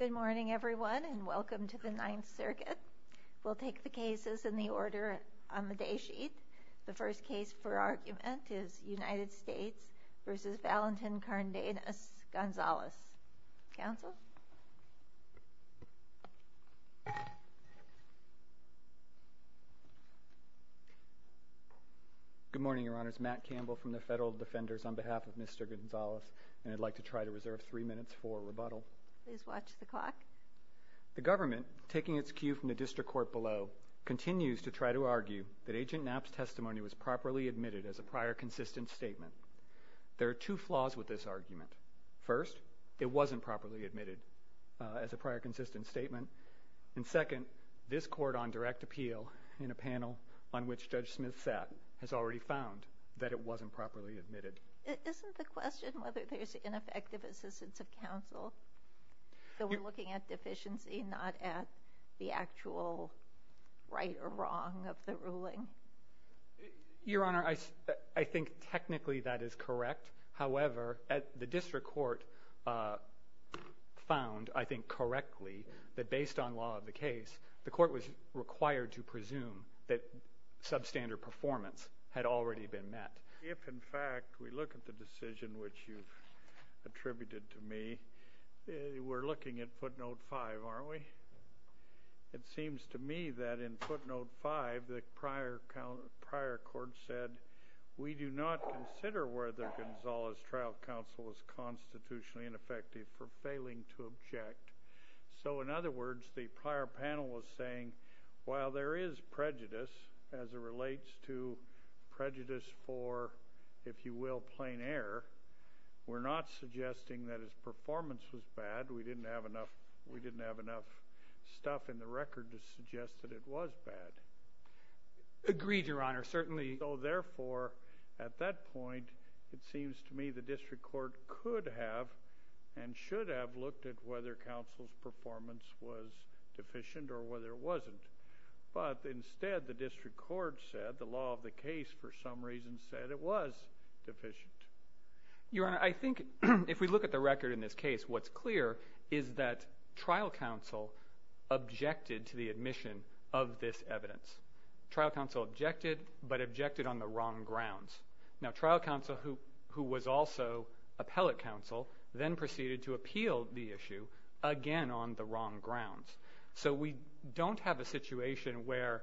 Good morning, everyone, and welcome to the Ninth Circuit. We'll take the cases in the order on the day sheet. The first case for argument is United States v. Valentin Cardenas Gonzales. Counsel? Good morning, Your Honors. Matt Campbell from the Federal Defenders on behalf of Mr. Gonzales. And I'd like to try to reserve three minutes for rebuttal. Please watch the clock. The government, taking its cue from the district court below, continues to try to argue that Agent Knapp's testimony was properly admitted as a prior consistent statement. There are two flaws with this argument. First, it wasn't properly admitted as a prior consistent statement. And second, this court on direct appeal in a panel on which Judge Smith sat has already found that it wasn't properly admitted. Isn't the question whether there's ineffective assistance of counsel? So we're looking at deficiency, not at the actual right or wrong of the ruling? Your Honor, I think technically that is correct. However, the district court found, I think correctly, that based on law of the case, the court was required to presume that substandard performance had already been met. If, in fact, we look at the decision which you've attributed to me, we're looking at footnote 5, aren't we? It seems to me that in footnote 5, the prior court said, we do not consider whether Gonzales' trial counsel was constitutionally ineffective for failing to object. So in other words, the prior panel was saying, while there is prejudice as it relates to prejudice for, if you will, plain error, we're not suggesting that his performance was bad. We didn't have enough stuff in the record to suggest that it was bad. Agreed, Your Honor, certainly. So therefore, at that point, it seems to me the district court could have and should have looked at whether counsel's performance was deficient or whether it wasn't. But instead, the district court said the law of the case for some reason said it was deficient. Your Honor, I think if we look at the record in this case, what's clear is that trial counsel objected to the admission of this evidence. Trial counsel objected, but objected on the wrong grounds. Now, trial counsel, who was also appellate counsel, then proceeded to appeal the issue again on the wrong grounds. So we don't have a situation where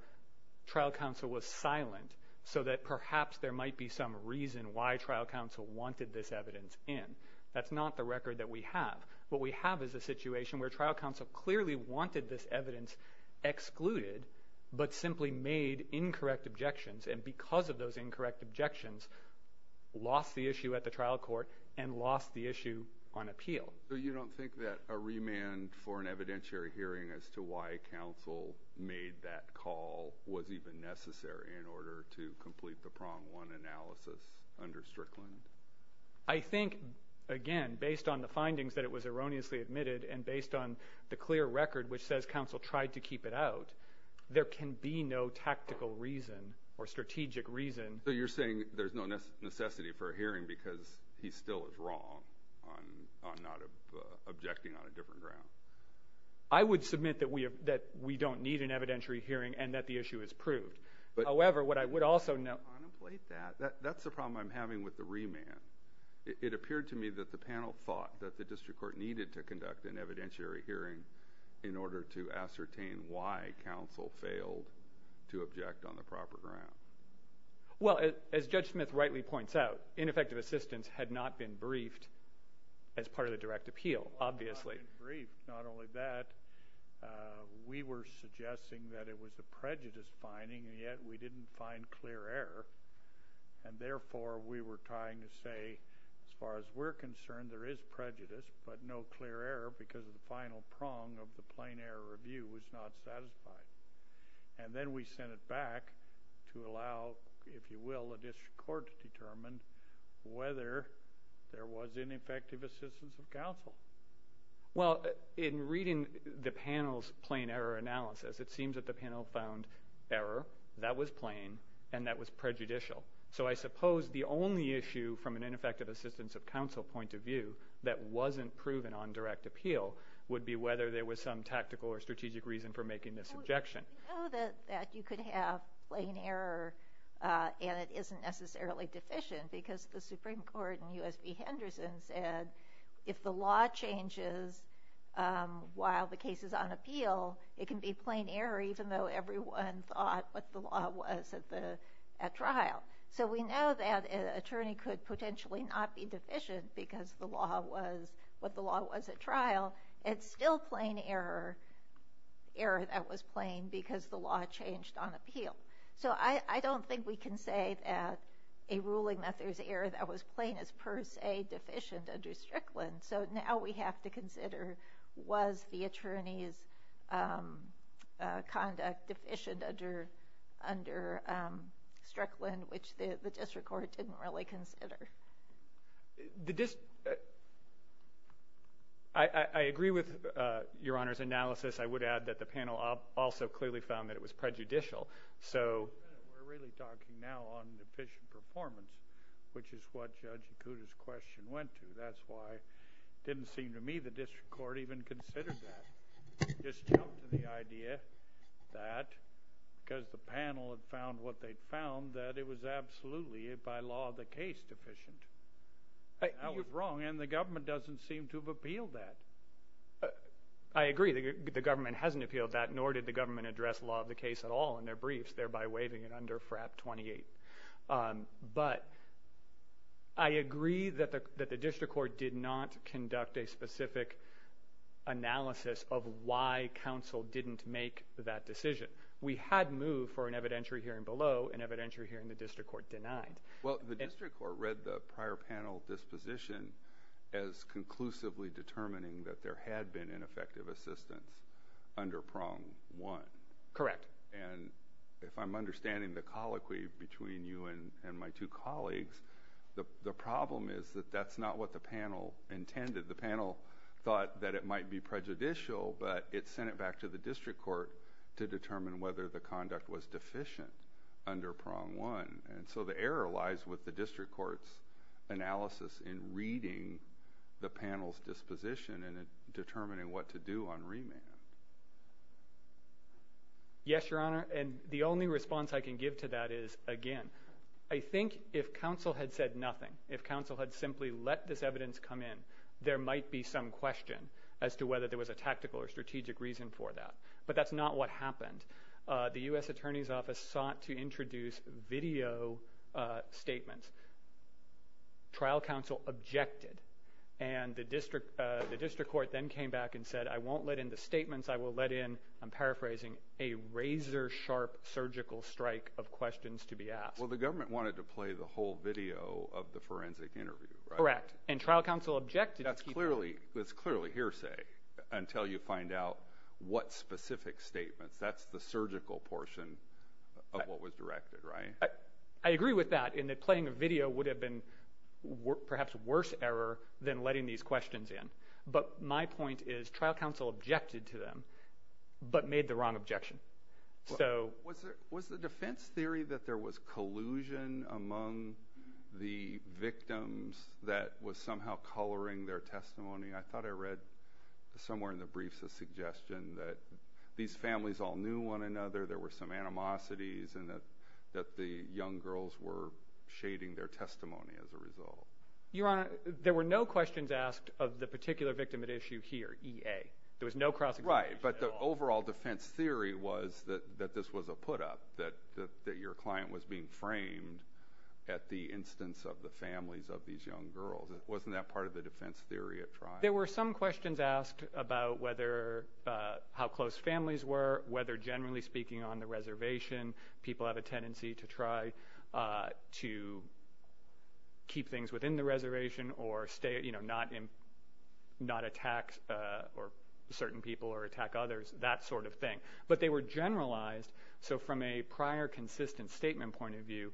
trial counsel was silent so that perhaps there might be some reason why trial counsel wanted this evidence in. That's not the record that we have. What we have is a situation where trial counsel clearly wanted this evidence excluded, but simply made incorrect objections. And because of those incorrect objections, lost the issue at the trial court and lost the issue on appeal. So you don't think that a remand for an evidentiary hearing as to why counsel made that call was even necessary in order to complete the prong one analysis under Strickland? I think, again, based on the findings that it was erroneously admitted and based on the clear record which says counsel tried to keep it out, there can be no tactical reason or strategic reason. So you're saying there's no necessity for a hearing because he still is wrong on not objecting on a different ground? I would submit that we don't need an evidentiary hearing and that the issue is proved. However, what I would also note— Unemployed that. That's the problem I'm having with the remand. It appeared to me that the panel thought that the district court needed to conduct an evidentiary hearing in order to ascertain why counsel failed to object on the proper ground. Well, as Judge Smith rightly points out, ineffective assistance had not been briefed as part of the direct appeal, obviously. Not only that, we were suggesting that it was a prejudice finding, and yet we didn't find clear error. And therefore, we were trying to say, as far as we're concerned, there is prejudice, but no clear error because the final prong of the plain error review was not satisfied. And then we sent it back to allow, if you will, the district court to determine whether there was ineffective assistance of counsel. Well, in reading the panel's plain error analysis, it seems that the panel found error. That was plain, and that was prejudicial. So I suppose the only issue from an ineffective assistance of counsel point of view that wasn't proven on direct appeal would be whether there was some tactical or strategic reason for making this objection. Well, we know that you could have plain error, and it isn't necessarily deficient because the Supreme Court in U.S. v. Henderson said if the law changes while the case is on appeal, it can be plain error even though everyone thought what the law was at trial. So we know that an attorney could potentially not be deficient because the law was what the law was at trial. It's still plain error that was plain because the law changed on appeal. So I don't think we can say that a ruling that there's error that was plain is per se deficient under Strickland. So now we have to consider was the attorney's conduct deficient under Strickland, which the district court didn't really consider. I agree with Your Honor's analysis. I would add that the panel also clearly found that it was prejudicial. We're really talking now on deficient performance, which is what Judge Yakuta's question went to. That's why it didn't seem to me the district court even considered that. It just jumped to the idea that because the panel had found what they'd found, that it was absolutely by law the case deficient. That was wrong, and the government doesn't seem to have appealed that. I agree. The government hasn't appealed that, nor did the government address the law of the case at all in their briefs, thereby waiving it under FRAP 28. But I agree that the district court did not conduct a specific analysis of why counsel didn't make that decision. We had moved for an evidentiary hearing below, an evidentiary hearing the district court denied. Well, the district court read the prior panel disposition as conclusively determining that there had been ineffective assistance under prong one. Correct. And if I'm understanding the colloquy between you and my two colleagues, the problem is that that's not what the panel intended. The panel thought that it might be prejudicial, but it sent it back to the district court to determine whether the conduct was deficient under prong one. And so the error lies with the district court's analysis in reading the panel's disposition and determining what to do on remand. Yes, Your Honor. And the only response I can give to that is, again, I think if counsel had said nothing, if counsel had simply let this evidence come in, there might be some question as to whether there was a tactical or strategic reason for that. But that's not what happened. The U.S. Attorney's Office sought to introduce video statements. Trial counsel objected. And the district court then came back and said, I won't let in the statements, I will let in, I'm paraphrasing, a razor sharp surgical strike of questions to be asked. Well, the government wanted to play the whole video of the forensic interview. Correct. And trial counsel objected. That's clearly hearsay until you find out what specific statements. That's the surgical portion of what was directed, right? I agree with that in that playing a video would have been perhaps a worse error than letting these questions in. But my point is trial counsel objected to them but made the wrong objection. Was the defense theory that there was collusion among the victims that was somehow coloring their testimony? I thought I read somewhere in the briefs a suggestion that these families all knew one another, there were some animosities, and that the young girls were shading their testimony as a result. Your Honor, there were no questions asked of the particular victim at issue here, E.A. There was no cross-examination at all. Right, but the overall defense theory was that this was a put-up, that your client was being framed at the instance of the families of these young girls. Wasn't that part of the defense theory at trial? There were some questions asked about how close families were, whether generally speaking on the reservation, people have a tendency to try to keep things within the reservation or not attack certain people or attack others, that sort of thing. But they were generalized, so from a prior consistent statement point of view,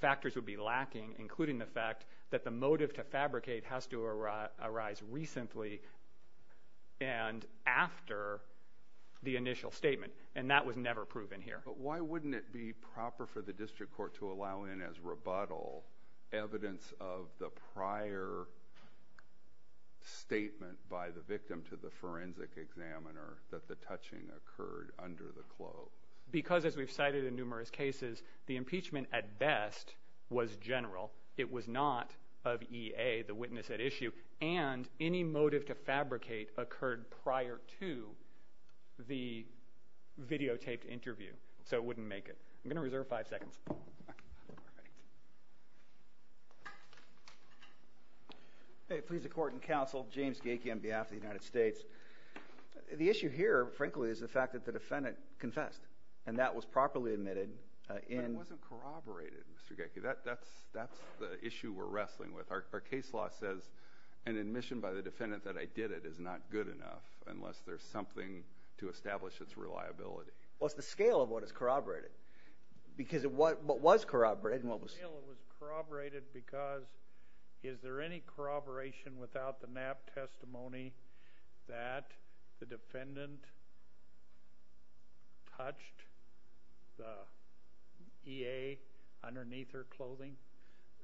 factors would be lacking including the fact that the motive to fabricate has to arise recently and after the initial statement, and that was never proven here. But why wouldn't it be proper for the district court to allow in as rebuttal evidence of the prior statement by the victim to the forensic examiner that the touching occurred under the clothes? Because as we've cited in numerous cases, the impeachment at best was general. It was not of EA, the witness at issue, and any motive to fabricate occurred prior to the videotaped interview, so it wouldn't make it. I'm going to reserve five seconds. All right. Please, the court and counsel, James Geike on behalf of the United States. The issue here, frankly, is the fact that the defendant confessed, and that was properly admitted. But it wasn't corroborated, Mr. Geike. That's the issue we're wrestling with. Our case law says an admission by the defendant that I did it is not good enough unless there's something to establish its reliability. Well, it's the scale of what is corroborated. Because what was corroborated and what was not. The scale was corroborated because is there any corroboration without the NAP testimony that the defendant touched the EA underneath her clothing?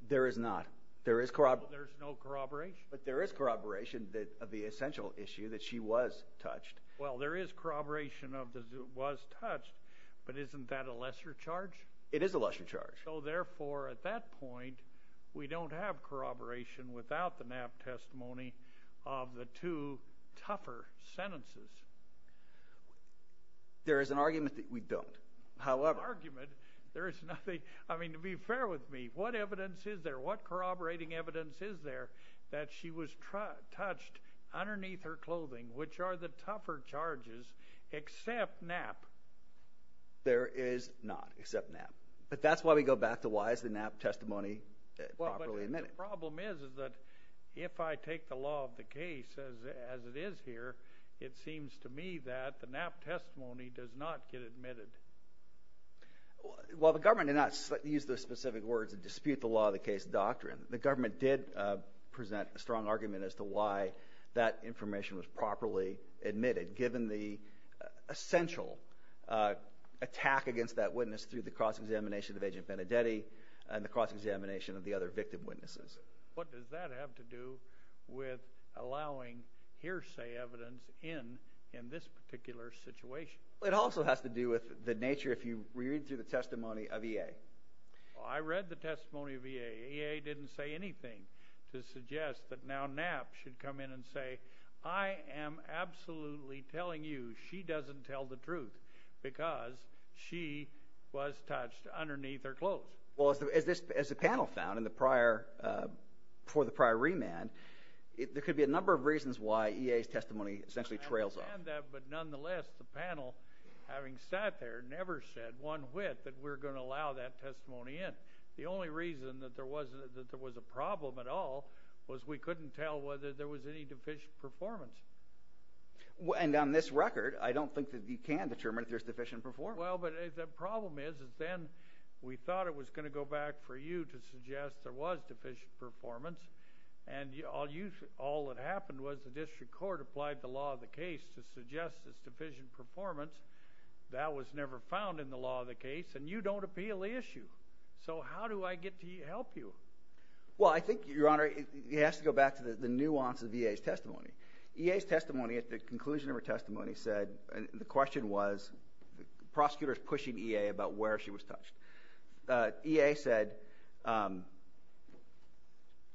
There is not. There is no corroboration. But there is corroboration of the essential issue that she was touched. Well, there is corroboration of it was touched, but isn't that a lesser charge? It is a lesser charge. So, therefore, at that point, we don't have corroboration without the NAP testimony of the two tougher sentences. There is an argument that we don't. However, there is nothing. I mean, to be fair with me, what evidence is there? What corroborating evidence is there that she was touched underneath her clothing, which are the tougher charges except NAP? There is not except NAP. But that's why we go back to why is the NAP testimony properly admitted? The problem is that if I take the law of the case as it is here, it seems to me that the NAP testimony does not get admitted. Well, the government did not use those specific words to dispute the law of the case doctrine. The government did present a strong argument as to why that information was properly admitted, given the essential attack against that witness through the cross-examination of Agent Benedetti and the cross-examination of the other victim witnesses. What does that have to do with allowing hearsay evidence in in this particular situation? It also has to do with the nature, if you read through the testimony of EA. I read the testimony of EA. EA didn't say anything to suggest that now NAP should come in and say, I am absolutely telling you she doesn't tell the truth because she was touched underneath her clothes. Well, as the panel found for the prior remand, there could be a number of reasons why EA's testimony essentially trails off. I understand that, but nonetheless, the panel, having sat there, never said one whit that we're going to allow that testimony in. The only reason that there was a problem at all was we couldn't tell whether there was any deficient performance. And on this record, I don't think that you can determine if there's deficient performance. Well, but the problem is then we thought it was going to go back for you to suggest there was deficient performance, and all that happened was the district court applied the law of the case to suggest there's deficient performance. That was never found in the law of the case, and you don't appeal the issue. So how do I get to help you? Well, I think, Your Honor, it has to go back to the nuance of EA's testimony. EA's testimony at the conclusion of her testimony said, and the question was, the prosecutor is pushing EA about where she was touched. EA said,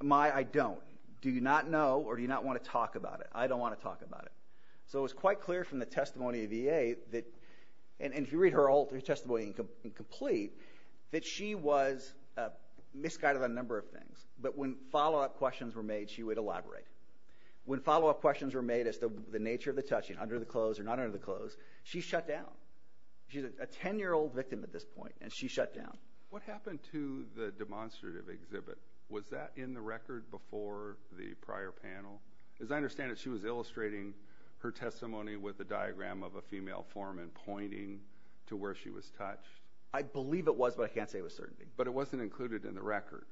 my, I don't. Do you not know or do you not want to talk about it? I don't want to talk about it. So it was quite clear from the testimony of EA that, and if you read her testimony in complete, that she was misguided on a number of things. But when follow-up questions were made, she would elaborate. When follow-up questions were made as to the nature of the touching, under the clothes or not under the clothes, she shut down. She's a 10-year-old victim at this point, and she shut down. What happened to the demonstrative exhibit? Was that in the record before the prior panel? As I understand it, she was illustrating her testimony with a diagram of a female foreman pointing to where she was touched. I believe it was, but I can't say with certainty. But it wasn't included in the record.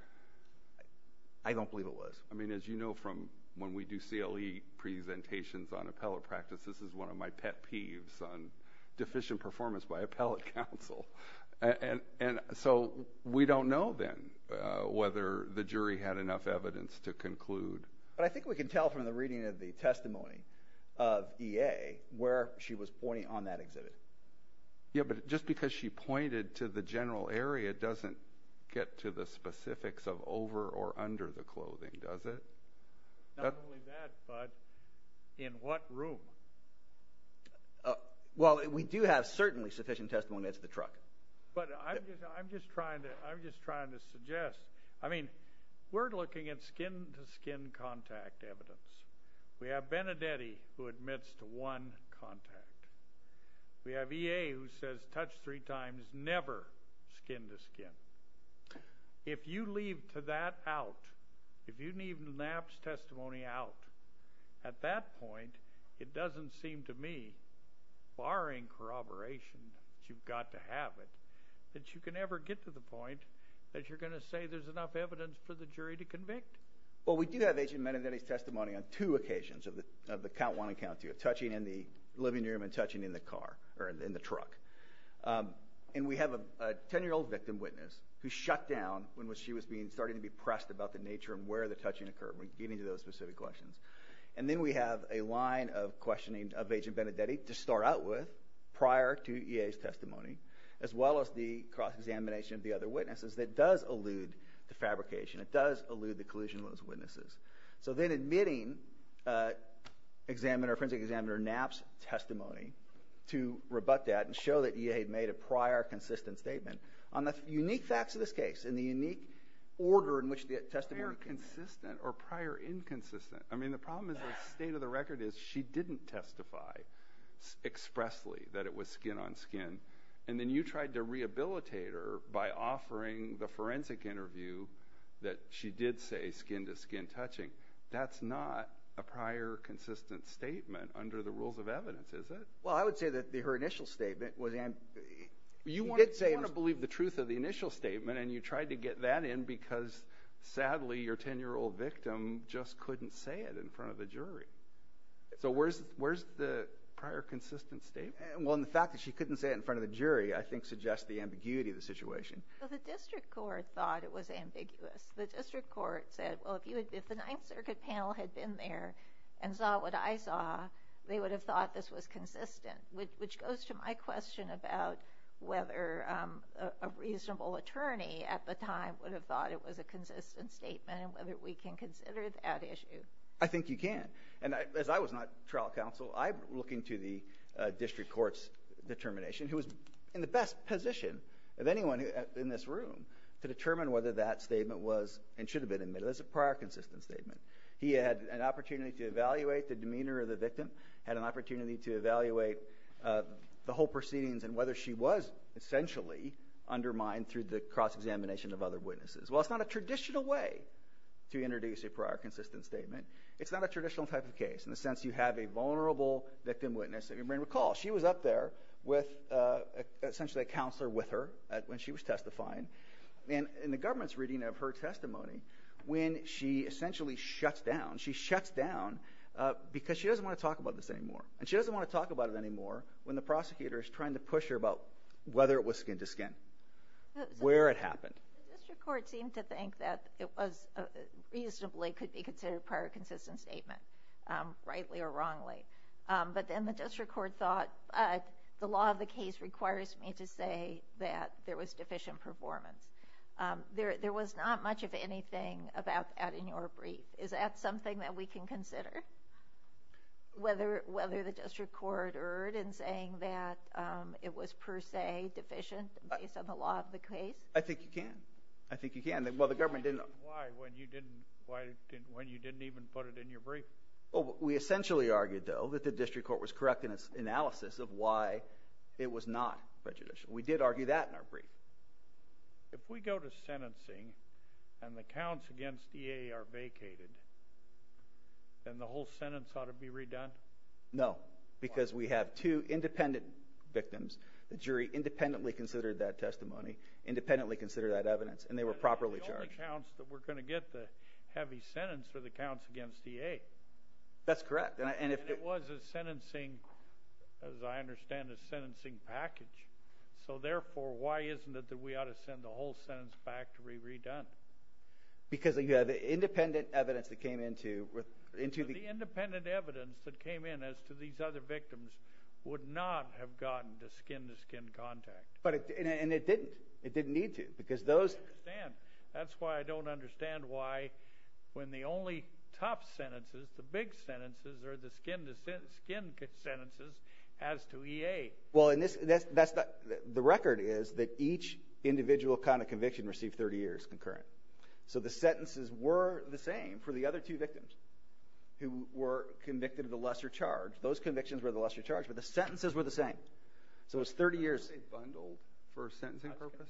I don't believe it was. I mean, as you know from when we do CLE presentations on appellate practice, this is one of my pet peeves on deficient performance by appellate counsel. And so we don't know then whether the jury had enough evidence to conclude. But I think we can tell from the reading of the testimony of EA where she was pointing on that exhibit. Yeah, but just because she pointed to the general area doesn't get to the specifics of over or under the clothing, does it? Not only that, but in what room? Well, we do have certainly sufficient testimony as to the truck. But I'm just trying to suggest. I mean, we're looking at skin-to-skin contact evidence. We have Benedetti who admits to one contact. We have EA who says touch three times, never skin-to-skin. If you leave to that out, if you leave NAPPS testimony out, at that point it doesn't seem to me, barring corroboration that you've got to have it, that you can ever get to the point that you're going to say there's enough evidence for the jury to convict. Well, we do have Agent Benedetti's testimony on two occasions of the count one and count two, touching in the living room and touching in the car or in the truck. And we have a 10-year-old victim witness who shut down when she was starting to be pressed about the nature and where the touching occurred, getting to those specific questions. And then we have a line of questioning of Agent Benedetti to start out with prior to EA's testimony, as well as the cross-examination of the other witnesses that does allude to fabrication. It does allude to the collusion of those witnesses. So then admitting examiner, forensic examiner NAPPS testimony to rebut that and show that EA had made a prior consistent statement on the unique facts of this case and the unique order in which the testimony came out. Prior consistent or prior inconsistent? I mean, the problem is the state of the record is she didn't testify expressly that it was skin-on-skin. And then you tried to rehabilitate her by offering the forensic interview that she did say skin-to-skin touching. That's not a prior consistent statement under the rules of evidence, is it? Well, I would say that her initial statement was empty. You want to believe the truth of the initial statement, and you tried to get that in because, sadly, your 10-year-old victim just couldn't say it in front of the jury. So where's the prior consistent statement? Well, and the fact that she couldn't say it in front of the jury I think suggests the ambiguity of the situation. Well, the district court thought it was ambiguous. The district court said, well, if the Ninth Circuit panel had been there and saw what I saw, they would have thought this was consistent, which goes to my question about whether a reasonable attorney at the time would have thought it was a consistent statement and whether we can consider that issue. I think you can. And as I was not trial counsel, I look into the district court's determination, who was in the best position of anyone in this room to determine whether that statement was and should have been admitted as a prior consistent statement. He had an opportunity to evaluate the demeanor of the victim, had an opportunity to evaluate the whole proceedings and whether she was essentially undermined through the cross-examination of other witnesses. Well, it's not a traditional way to introduce a prior consistent statement. It's not a traditional type of case in the sense you have a vulnerable victim witness. I mean, recall, she was up there with essentially a counselor with her when she was testifying. And in the government's reading of her testimony, when she essentially shuts down, she shuts down because she doesn't want to talk about this anymore. And she doesn't want to talk about it anymore when the prosecutor is trying to push her about whether it was skin to skin, where it happened. The district court seemed to think that it reasonably could be considered a prior consistent statement, rightly or wrongly. But then the district court thought the law of the case requires me to say that there was deficient performance. There was not much of anything about that in your brief. Is that something that we can consider? Whether the district court erred in saying that it was per se deficient based on the law of the case? I think you can. I think you can. Well, the government didn't. Why? When you didn't even put it in your brief? We essentially argued, though, that the district court was correct in its analysis of why it was not prejudicial. We did argue that in our brief. If we go to sentencing and the counts against EA are vacated, then the whole sentence ought to be redone? No, because we have two independent victims. The jury independently considered that testimony, independently considered that evidence, and they were properly charged. The only counts that we're going to get the heavy sentence are the counts against EA. That's correct. And it was a sentencing, as I understand, a sentencing package. So, therefore, why isn't it that we ought to send the whole sentence back to be redone? Because you have independent evidence that came into the— The independent evidence that came in as to these other victims would not have gotten to skin-to-skin contact. And it didn't. It didn't need to because those— I understand. That's why I don't understand why when the only top sentences, the big sentences, are the skin-to-skin sentences as to EA. Well, and this—the record is that each individual kind of conviction received 30 years concurrent. So the sentences were the same for the other two victims who were convicted of the lesser charge. Those convictions were the lesser charge, but the sentences were the same. So it was 30 years— Were they bundled for sentencing purposes?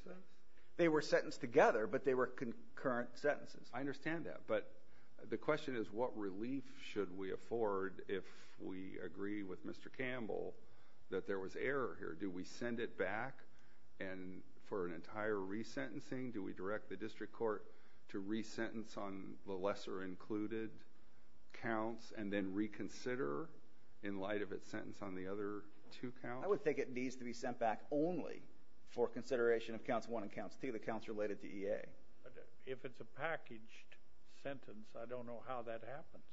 They were sentenced together, but they were concurrent sentences. I understand that. But the question is what relief should we afford if we agree with Mr. Campbell that there was error here? Do we send it back for an entire resentencing? Do we direct the district court to resentence on the lesser included counts and then reconsider in light of its sentence on the other two counts? I would think it needs to be sent back only for consideration of counts 1 and counts 2, the counts related to EA. If it's a packaged sentence, I don't know how that happens.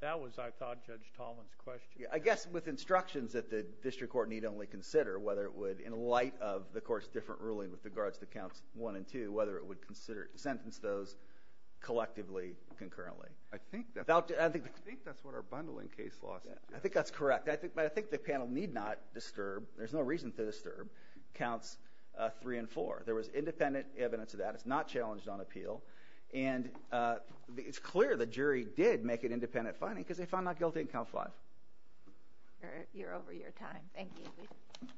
That was, I thought, Judge Tolman's question. I guess with instructions that the district court need only consider whether it would, in light of the court's different ruling with regards to counts 1 and 2, whether it would consider—sentence those collectively concurrently. I think that's what our bundling case law says. I think that's correct. But I think the panel need not disturb—there's no reason to disturb—counts 3 and 4. There was independent evidence of that. It's not challenged on appeal. And it's clear the jury did make an independent finding because they found not guilty in count 5. You're over your time. Thank you. We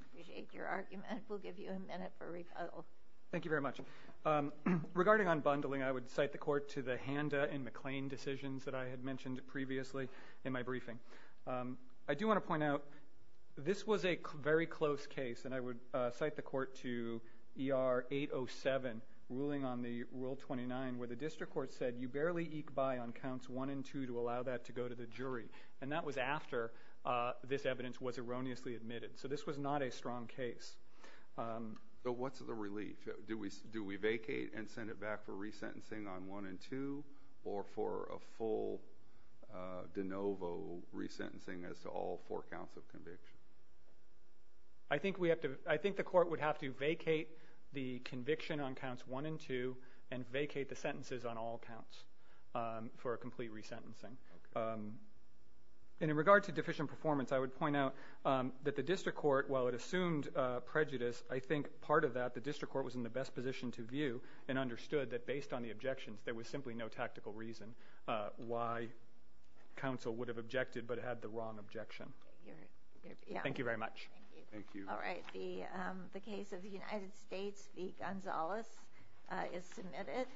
appreciate your argument. We'll give you a minute for rebuttal. Thank you very much. Regarding unbundling, I would cite the court to the Handa and McClain decisions that I had mentioned previously in my briefing. I do want to point out this was a very close case, and I would cite the court to ER 807, ruling on the Rule 29, where the district court said you barely eke by on counts 1 and 2 to allow that to go to the jury. And that was after this evidence was erroneously admitted. So this was not a strong case. So what's the relief? Do we vacate and send it back for resentencing on 1 and 2 or for a full de novo resentencing as to all four counts of conviction? I think the court would have to vacate the conviction on counts 1 and 2 and vacate the sentences on all counts for a complete resentencing. And in regard to deficient performance, I would point out that the district court, while it assumed prejudice, I think part of that the district court was in the best position to view and understood that based on the objections there was simply no tactical reason why counsel would have objected but had the wrong objection. Thank you very much. Thank you. All right. The case of the United States v. Gonzales is submitted.